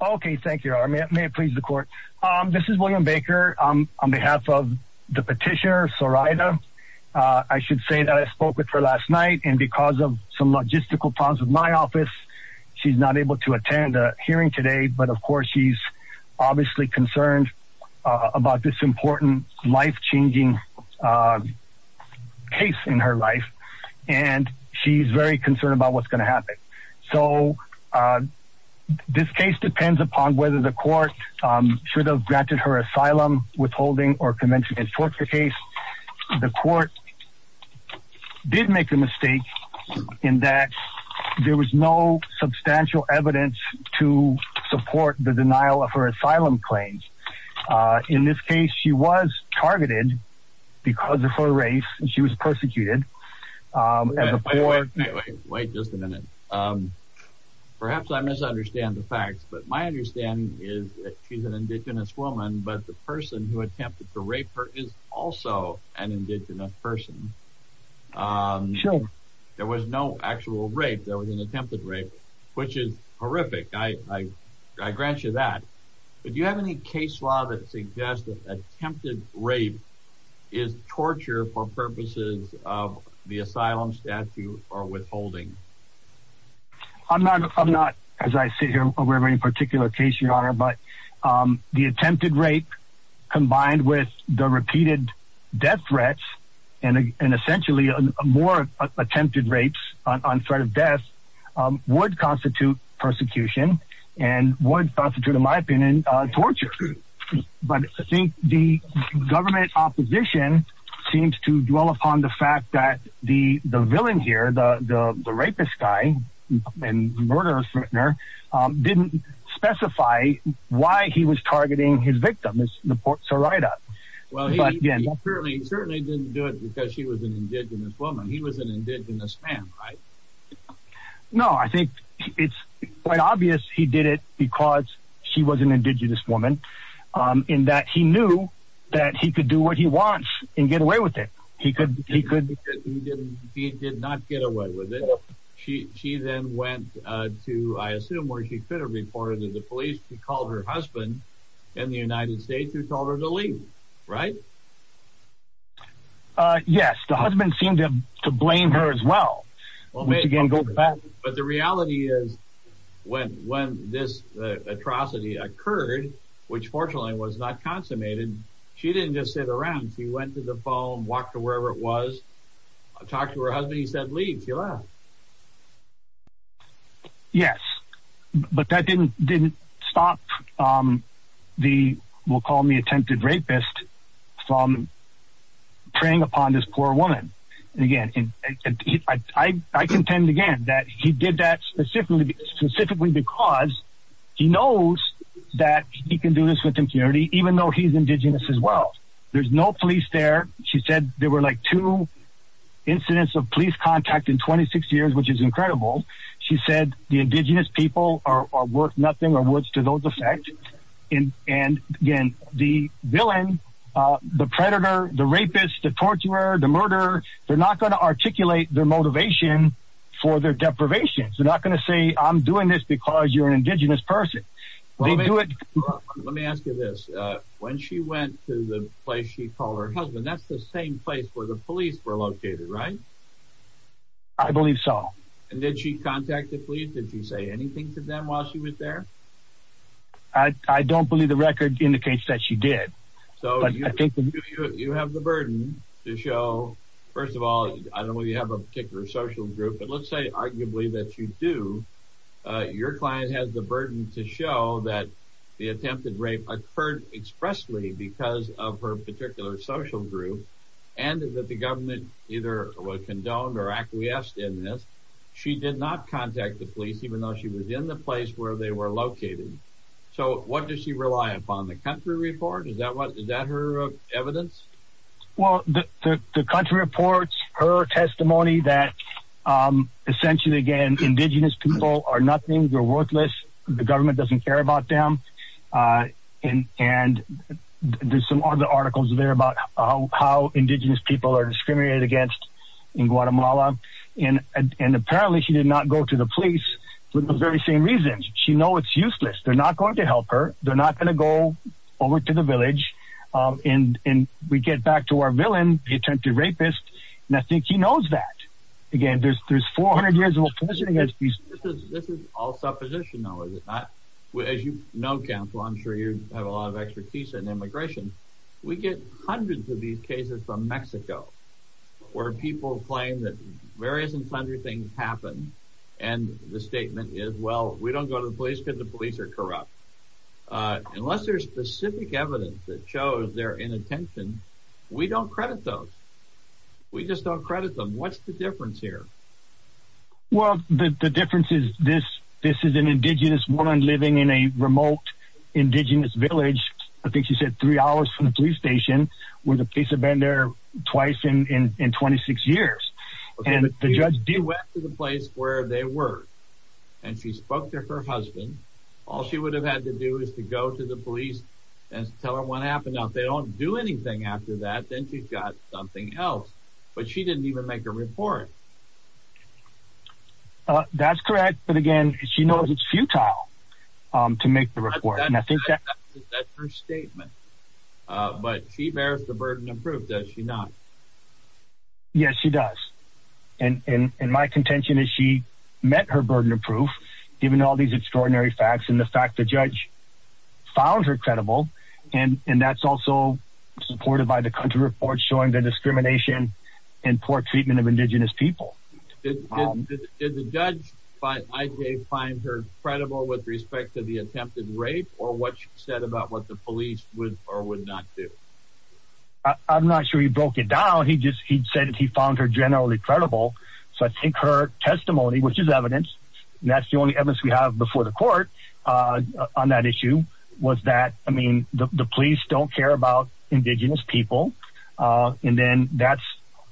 Okay thank you. May it please the court? Um this is William Baker. On behalf of the petitioner Sorida I should say that I spoke with her last night and because of some logistical problems with my office she's not able to attend a hearing today but of course she's obviously concerned about this important life-changing case in her life and she's very concerned about what's going to happen. So this case depends upon whether the court should have granted her asylum withholding or convention against torture case. The court did make the mistake in that there was no substantial evidence to support the denial of her asylum claims. In this case she was targeted because of her race and she was persecuted um wait just a minute um perhaps I misunderstand the facts but my understanding is that she's an indigenous woman but the person who attempted to rape her is also an indigenous person. There was no actual rape there was an attempted rape which is horrific. I grant you that but do any case law that suggests that attempted rape is torture for purposes of the asylum statute or withholding? I'm not I'm not as I sit here aware of any particular case your honor but the attempted rape combined with the repeated death threats and essentially more attempted rapes on threat of death would constitute persecution and would constitute in my opinion torture. But I think the government opposition seems to dwell upon the fact that the the villain here the the the rapist guy and murderer didn't specify why he was targeting his victim. Well he certainly certainly didn't do it because she was an indigenous woman he was an indigenous man right? No I think it's quite obvious he did it because she was an indigenous woman in that he knew that he could do what he wants and get away with it he could he could he didn't he did not get away with it. She she then went uh to I assume where she could have reported to the police she called her husband in the United States who told her to leave right? Uh yes the husband seemed to blame her as well which again goes back. But the reality is when when this atrocity occurred which fortunately was not consummated she didn't just sit around she went to the phone walked to wherever it was talked to her husband he said leave she left. Yes but that didn't didn't stop um the we'll call me attempted rapist from preying upon this poor woman again and I I contend again that he did that specifically specifically because he knows that he can do this with impurity even though he's indigenous as well there's no police there she said there were like two incidents of police contact in 26 years which is incredible she said the indigenous people are worth nothing or words to those effect in and again the villain uh the predator the rapist the torturer the murderer they're not going to articulate their motivation for their deprivations they're not going to say I'm doing this because you're an indigenous person they do it. Let me ask you this uh when she went to the place she called her husband that's the same place where the police were located right? I believe so. And did she contact the police did she say anything to them while she was there? I I don't believe the record indicates that she did. So I think you have the burden to show first of all I don't know you have a particular social group but let's say arguably that you do uh your client has the burden to show that the attempted rape occurred expressly because of her condoned or acquiesced in this she did not contact the police even though she was in the place where they were located so what does she rely upon the country report is that what is that her evidence? Well the the country reports her testimony that um essentially again indigenous people are nothing they're worthless the government doesn't care about them uh and and there's some other articles there about how indigenous people are discriminated against in Guatemala and and apparently she did not go to the police for the very same reasons she know it's useless they're not going to help her they're not going to go over to the village um and and we get back to our villain the attempted rapist and I think he knows that again there's there's 400 years of oppression against these this is all supposition though is it not as you know counsel I'm sure you have a lot of expertise in immigration we get hundreds of these cases from Mexico where people claim that various and plunder things happen and the statement is well we don't go to the police because the police are corrupt uh unless there's specific evidence that shows their inattention we don't credit those we just don't credit them what's the difference here? Well the the difference is this this is an indigenous woman living in a remote indigenous village I think she said three hours from the police station where the police have been there twice in in 26 years and the judge went to the place where they were and she spoke to her husband all she would have had to do is to go to the police and tell him what happened now if they don't do anything after that then she's got something else but she didn't even make a report uh that's correct but again she knows it's futile um to make the report and I think that that's her statement uh but she bears the burden of proof does she not? Yes she does and and my contention is she met her burden of proof given all these extraordinary facts and the fact the judge found her credible and and that's also supported by the country report showing the discrimination and poor treatment of indigenous people. Did the judge find her credible with respect to the attempted rape or what she said about what the police would or would not do? I'm not sure he broke it down he just he said he found her generally credible so I think her testimony which is evidence and that's the only evidence we have before the court uh on that issue was that I mean the police don't care about indigenous people uh and then that's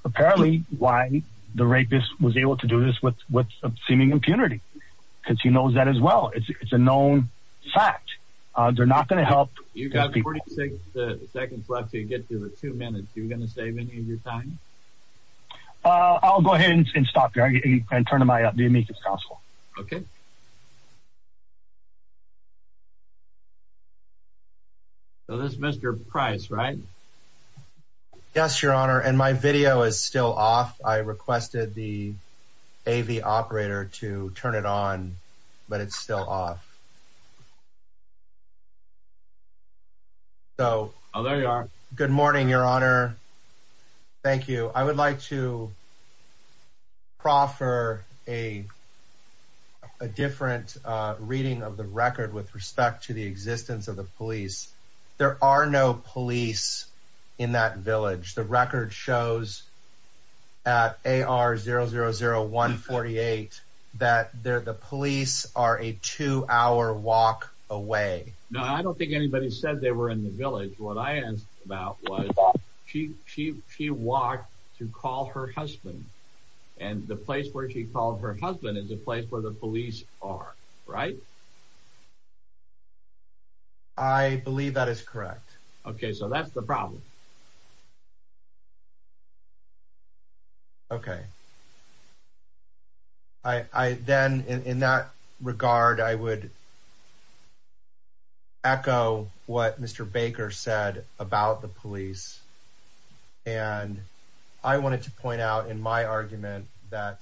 apparently why the rapist was able to do this with with seeming impunity because he knows that as well it's a known fact uh they're not going to help you got 46 seconds left to get to the two minutes you're going to save any of your time? Uh I'll go ahead and stop and turn them I up do you make this possible? Okay. So this is Mr. Price right? Yes your honor and my video is still off I requested the AV operator to turn it on but it's still off. So oh there you are good morning your honor thank you I would like to a a different uh reading of the record with respect to the existence of the police there are no police in that village the record shows at AR 000148 that there the police are a two hour walk away. No I don't think anybody said they were in the village what I asked about was she she she walked to call her husband and the place where she called her husband is a place where the police are right? I believe that is correct. Okay so that's the problem. Okay I I then in that regard I would echo what Mr. Baker said about the police and I wanted to point out in my argument that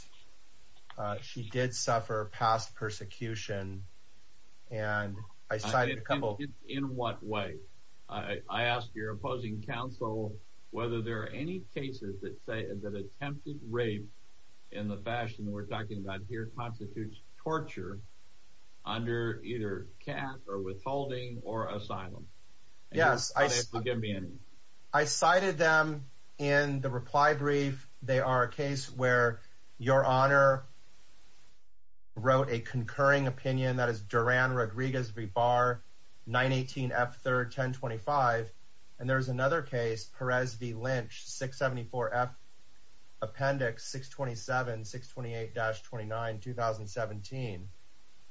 she did suffer past persecution and I cited a couple in what way I I ask your opposing counsel whether there are any cases that say that attempted rape in the fashion we're talking about here constitutes torture under either cash or withholding or asylum. Yes I I cited them in the reply brief they are a case where your honor wrote a concurring opinion that is Duran Rodriguez V. Barr 918 F 3rd 1025 and there's another case Perez V. Lynch 674 F appendix 627 628-29 2017.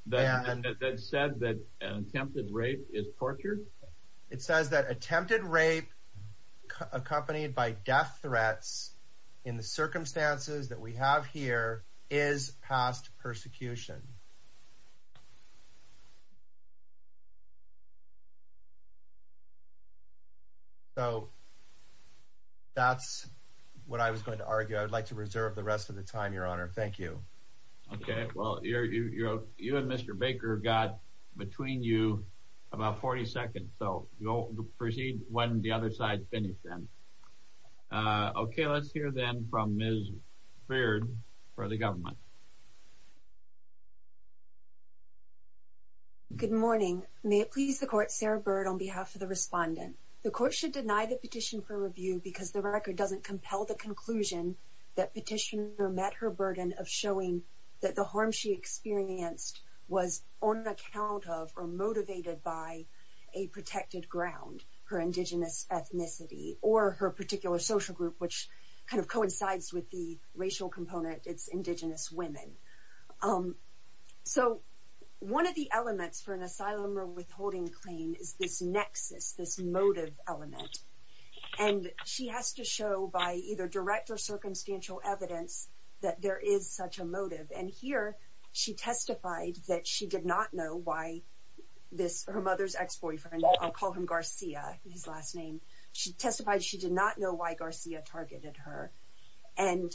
That said that attempted rape is torture? It says that attempted rape accompanied by death threats in the circumstances that we have here is past persecution. So that's what I was going to argue I would like to reserve the rest of the time your honor. Thank you. Okay well you you know you and Mr. Baker got between you about 40 seconds so you'll proceed when the other side finished then. Okay let's hear then from Ms. Baird for the government. Good morning may it please the court Sarah Baird on behalf of the respondent. The court should deny the petition for review because the record doesn't compel the conclusion that petitioner met her burden of showing that the harm she experienced was on account of or motivated by a protected ground her indigenous ethnicity or her particular social group which kind of coincides with the women. So one of the elements for an asylum or withholding claim is this nexus this motive element and she has to show by either direct or circumstantial evidence that there is such a motive and here she testified that she did not know why this her mother's ex-boyfriend I'll call him Garcia his last name she testified she did not know why Garcia targeted her and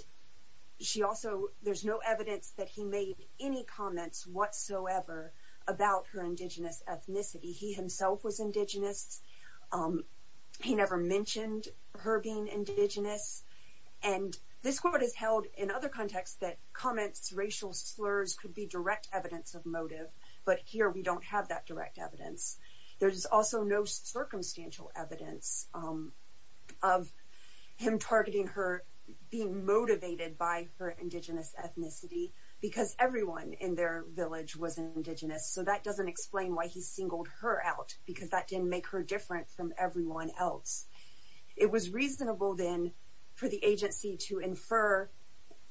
she also there's no evidence that he made any comments whatsoever about her indigenous ethnicity he himself was indigenous he never mentioned her being indigenous and this court has held in other contexts that comments racial slurs could be direct evidence of motive but here we don't have that direct evidence there's also no circumstantial evidence of him targeting her being motivated by her indigenous ethnicity because everyone in their village was indigenous so that doesn't explain why he singled her out because that didn't make her different from everyone else it was reasonable then for the agency to infer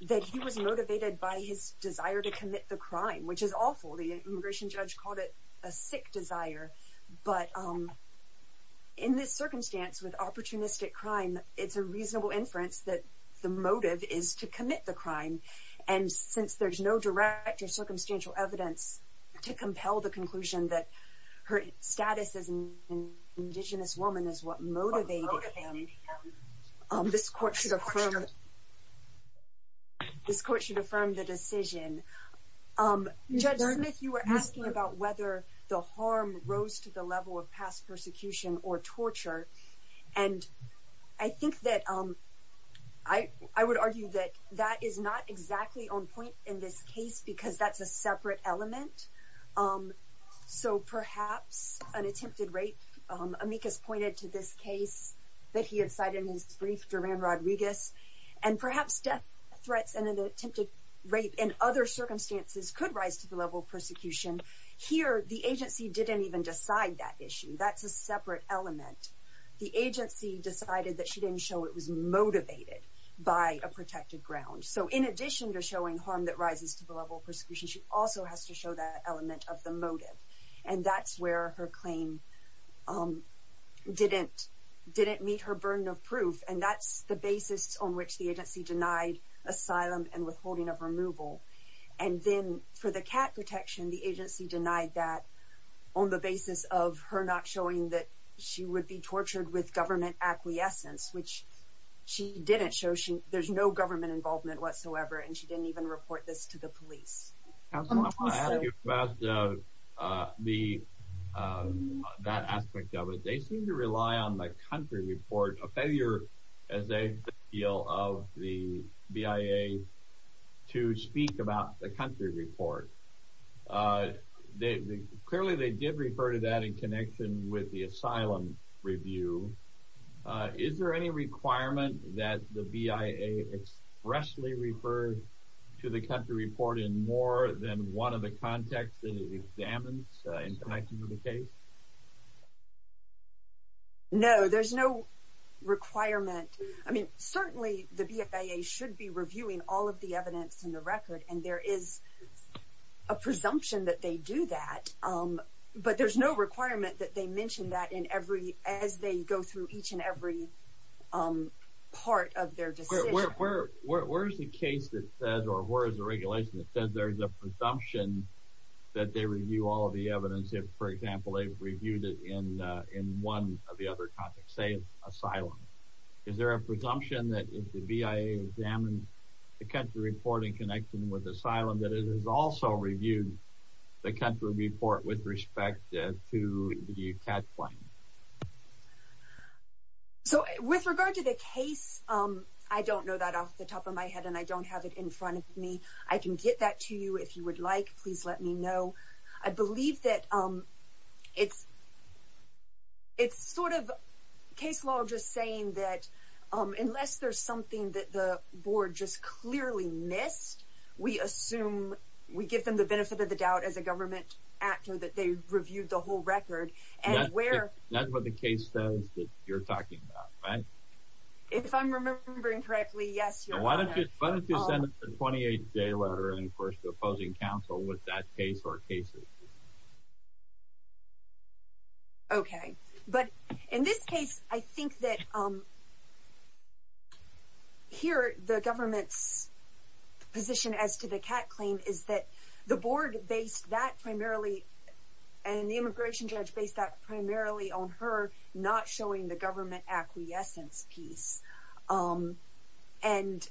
that he was motivated by his desire to commit the crime which is awful the immigration judge called it a sick desire but um in this circumstance with opportunistic crime it's a reasonable inference that the motive is to commit the crime and since there's no direct or circumstantial evidence to compel the conclusion that her status as an indigenous woman is what motivated him this court should affirm this court should affirm the decision um judge smith you were asking about whether the harm rose to the level of past or torture and i think that um i i would argue that that is not exactly on point in this case because that's a separate element um so perhaps an attempted rape um amicus pointed to this case that he had cited in his brief duran rodriguez and perhaps death threats and an attempted rape in other circumstances could rise to the level of persecution here the agency didn't even decide that issue that's a separate element the agency decided that she didn't show it was motivated by a protected ground so in addition to showing harm that rises to the level of persecution she also has to show that element of the motive and that's where her claim um didn't didn't meet her burden of proof and that's the basis on which the agency denied asylum and withholding of removal and then for the cat protection the agency denied that on the basis of her not showing that she would be tortured with government acquiescence which she didn't show she there's no government involvement whatsoever and she didn't even report this to the police about uh uh the uh that aspect of it they seem to rely on the country report a failure as they feel of the bia to speak about the country report uh they clearly they did refer to that in connection with the asylum review uh is there any requirement that the bia expressly referred to the country report in more than one of the contexts that it examines uh in connection with the case no there's no requirement i mean certainly the bia should be reviewing all of the evidence in the record and there is a presumption that they do that um but there's no requirement that they mention that in every as they go through each and every um part of their decision where where's the case that says or where is the regulation that says there's a presumption that they review all the evidence if for example they've reviewed it in uh in one of the other contexts say asylum is there a presumption that if the bia examines the country reporting connection with asylum that it has also reviewed the country report with respect to the cat plane so with regard to the case um i don't know that off the top of my head and i don't have it in front of me i can get that to you if you would like please let me know i believe that um it's it's sort of case law just saying that um unless there's something that the board just clearly missed we assume we give them the benefit of the doubt as a government actor that they reviewed the whole record and where that's what the case says that you're talking about right if i'm remembering correctly yes why don't you why don't you send us a 28 day letter in opposing counsel with that case or cases okay but in this case i think that um here the government's position as to the cat claim is that the board based that primarily and the immigration judge based that primarily on her not showing the government acquiescence piece um and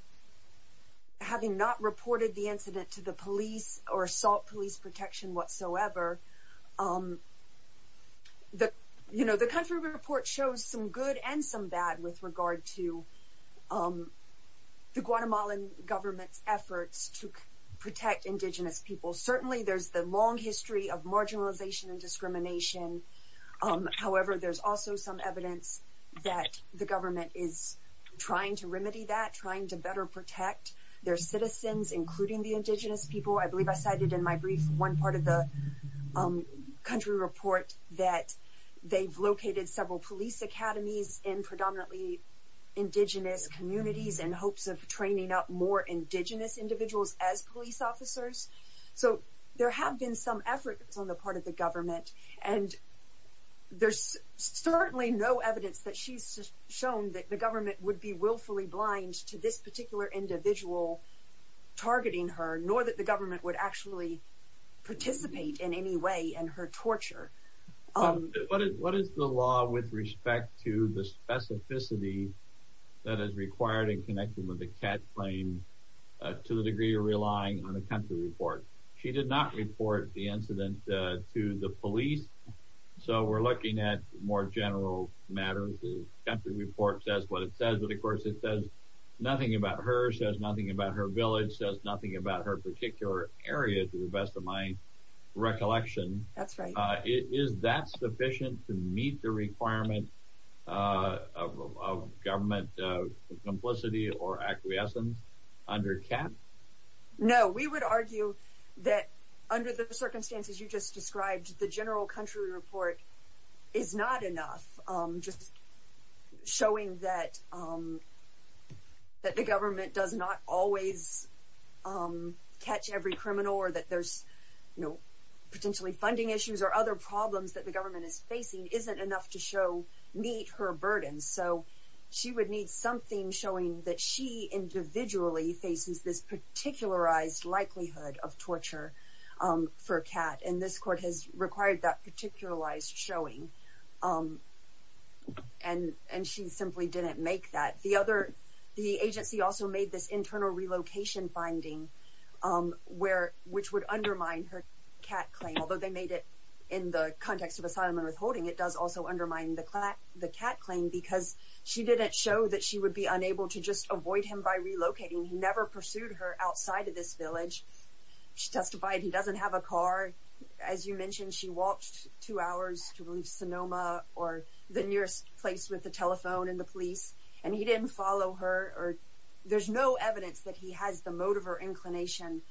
having not reported the incident to the police or assault police protection whatsoever um the you know the country report shows some good and some bad with regard to um the guatemalan government's efforts to protect indigenous people certainly there's the long history of marginalization and discrimination um however there's also some evidence that the trying to remedy that trying to better protect their citizens including the indigenous people i believe i cited in my brief one part of the um country report that they've located several police academies in predominantly indigenous communities in hopes of training up more indigenous individuals as police officers so there have been some efforts on the part of the willfully blind to this particular individual targeting her nor that the government would actually participate in any way in her torture um what is what is the law with respect to the specificity that is required in connection with the cat plane to the degree of relying on the country report she did not report the incident to the police so we're looking at more general matters the country report says what it says but of course it says nothing about her says nothing about her village says nothing about her particular area to the best of my recollection that's right uh is that sufficient to meet the requirement uh of government uh complicity or acquiescence under cap no we would argue that under the circumstances you just described the just showing that um that the government does not always um catch every criminal or that there's you know potentially funding issues or other problems that the government is facing isn't enough to show meet her burden so she would need something showing that she individually faces this particularized likelihood of torture um for a cat and this court has required that particularized showing um and and she simply didn't make that the other the agency also made this internal relocation finding um where which would undermine her cat claim although they made it in the context of asylum and withholding it does also undermine the the cat claim because she didn't show that she would be unable to just avoid him by relocating he never pursued her outside of this village she testified he doesn't have a car as you mentioned she walked two hours to leave sonoma or the nearest place with the telephone and the police and he didn't follow her or there's no evidence that he has the motive or inclination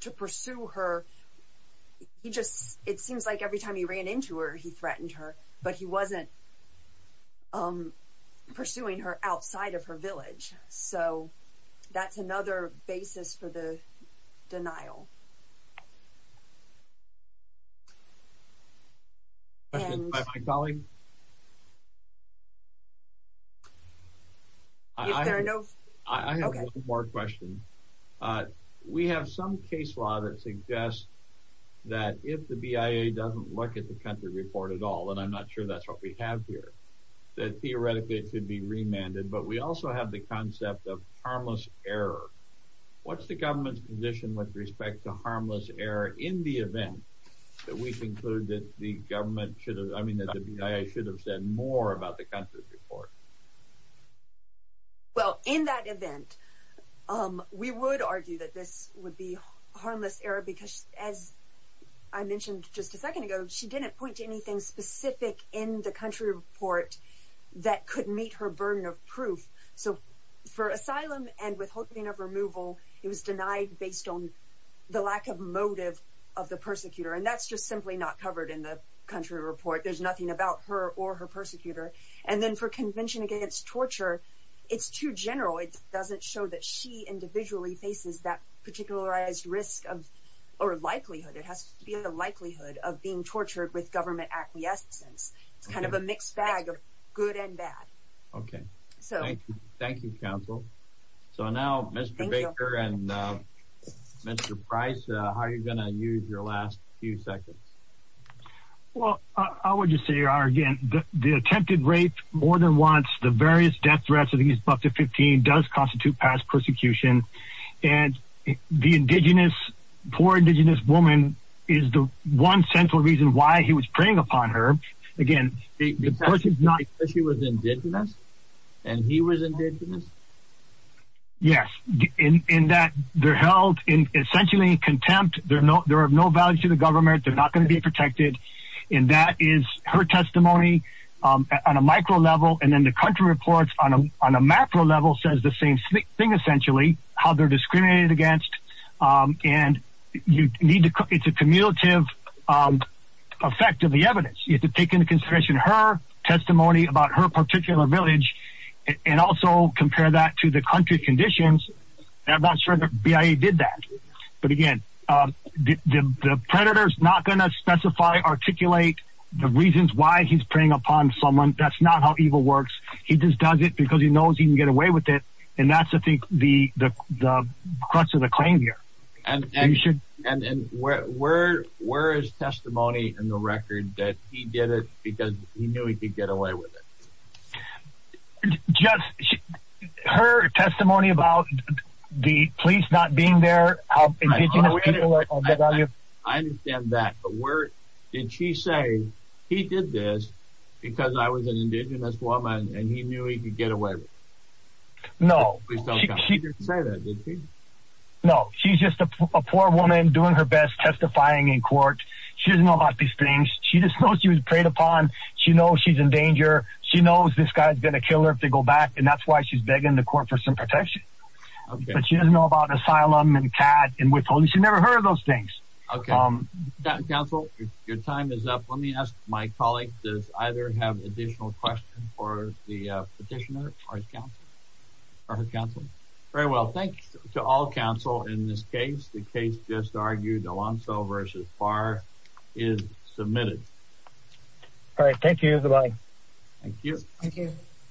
to pursue her he just it seems like every time he ran into her he threatened her but he wasn't um pursuing her outside of her denial we have some case law that suggests that if the bia doesn't look at the country report at all and i'm not sure that's what we have here that theoretically it could be remanded but we respect the harmless error in the event that we conclude that the government should have i mean that i should have said more about the country report well in that event um we would argue that this would be harmless error because as i mentioned just a second ago she didn't point to anything specific in the country report that could meet her burden of proof so for asylum and withholding removal it was denied based on the lack of motive of the persecutor and that's just simply not covered in the country report there's nothing about her or her persecutor and then for convention against torture it's too general it doesn't show that she individually faces that particularized risk of or likelihood it has to be the likelihood of being tortured with government acquiescence it's kind of a mixed bag of good and bad okay so thank you thank you counsel so now mr baker and mr price how are you going to use your last few seconds well i would just say again the attempted rape more than once the various death threats of these buck to 15 does constitute past persecution and the indigenous poor indigenous woman is the one central reason why he was preying upon her again because she was indigenous and he was indigenous yes in in that they're held in essentially contempt there are no there are no values to the government they're not going to be protected and that is her testimony um on a micro level and then the country reports on a on a macro level says the same thing essentially how they're discriminated against um and you need to it's a um effect of the evidence you have to take into consideration her testimony about her particular village and also compare that to the country conditions i'm not sure that bia did that but again um the the predator is not going to specify articulate the reasons why he's preying upon someone that's not how evil works he just does it because he knows he can get away with it and and and where where where is testimony in the record that he did it because he knew he could get away with it just her testimony about the police not being there how indigenous people i understand that but where did she say he did this because i was an indigenous woman and he doing her best testifying in court she doesn't know about these things she just knows she was preyed upon she knows she's in danger she knows this guy's gonna kill her if they go back and that's why she's begging the court for some protection but she doesn't know about asylum and pad and with police she never heard of those things okay um council your time is up let me ask my colleague does either have additional questions for the petitioner or his counsel or his counsel very well thanks to all counsel in this case the case just argued alonso versus par is submitted all right thank you goodbye thank you thank you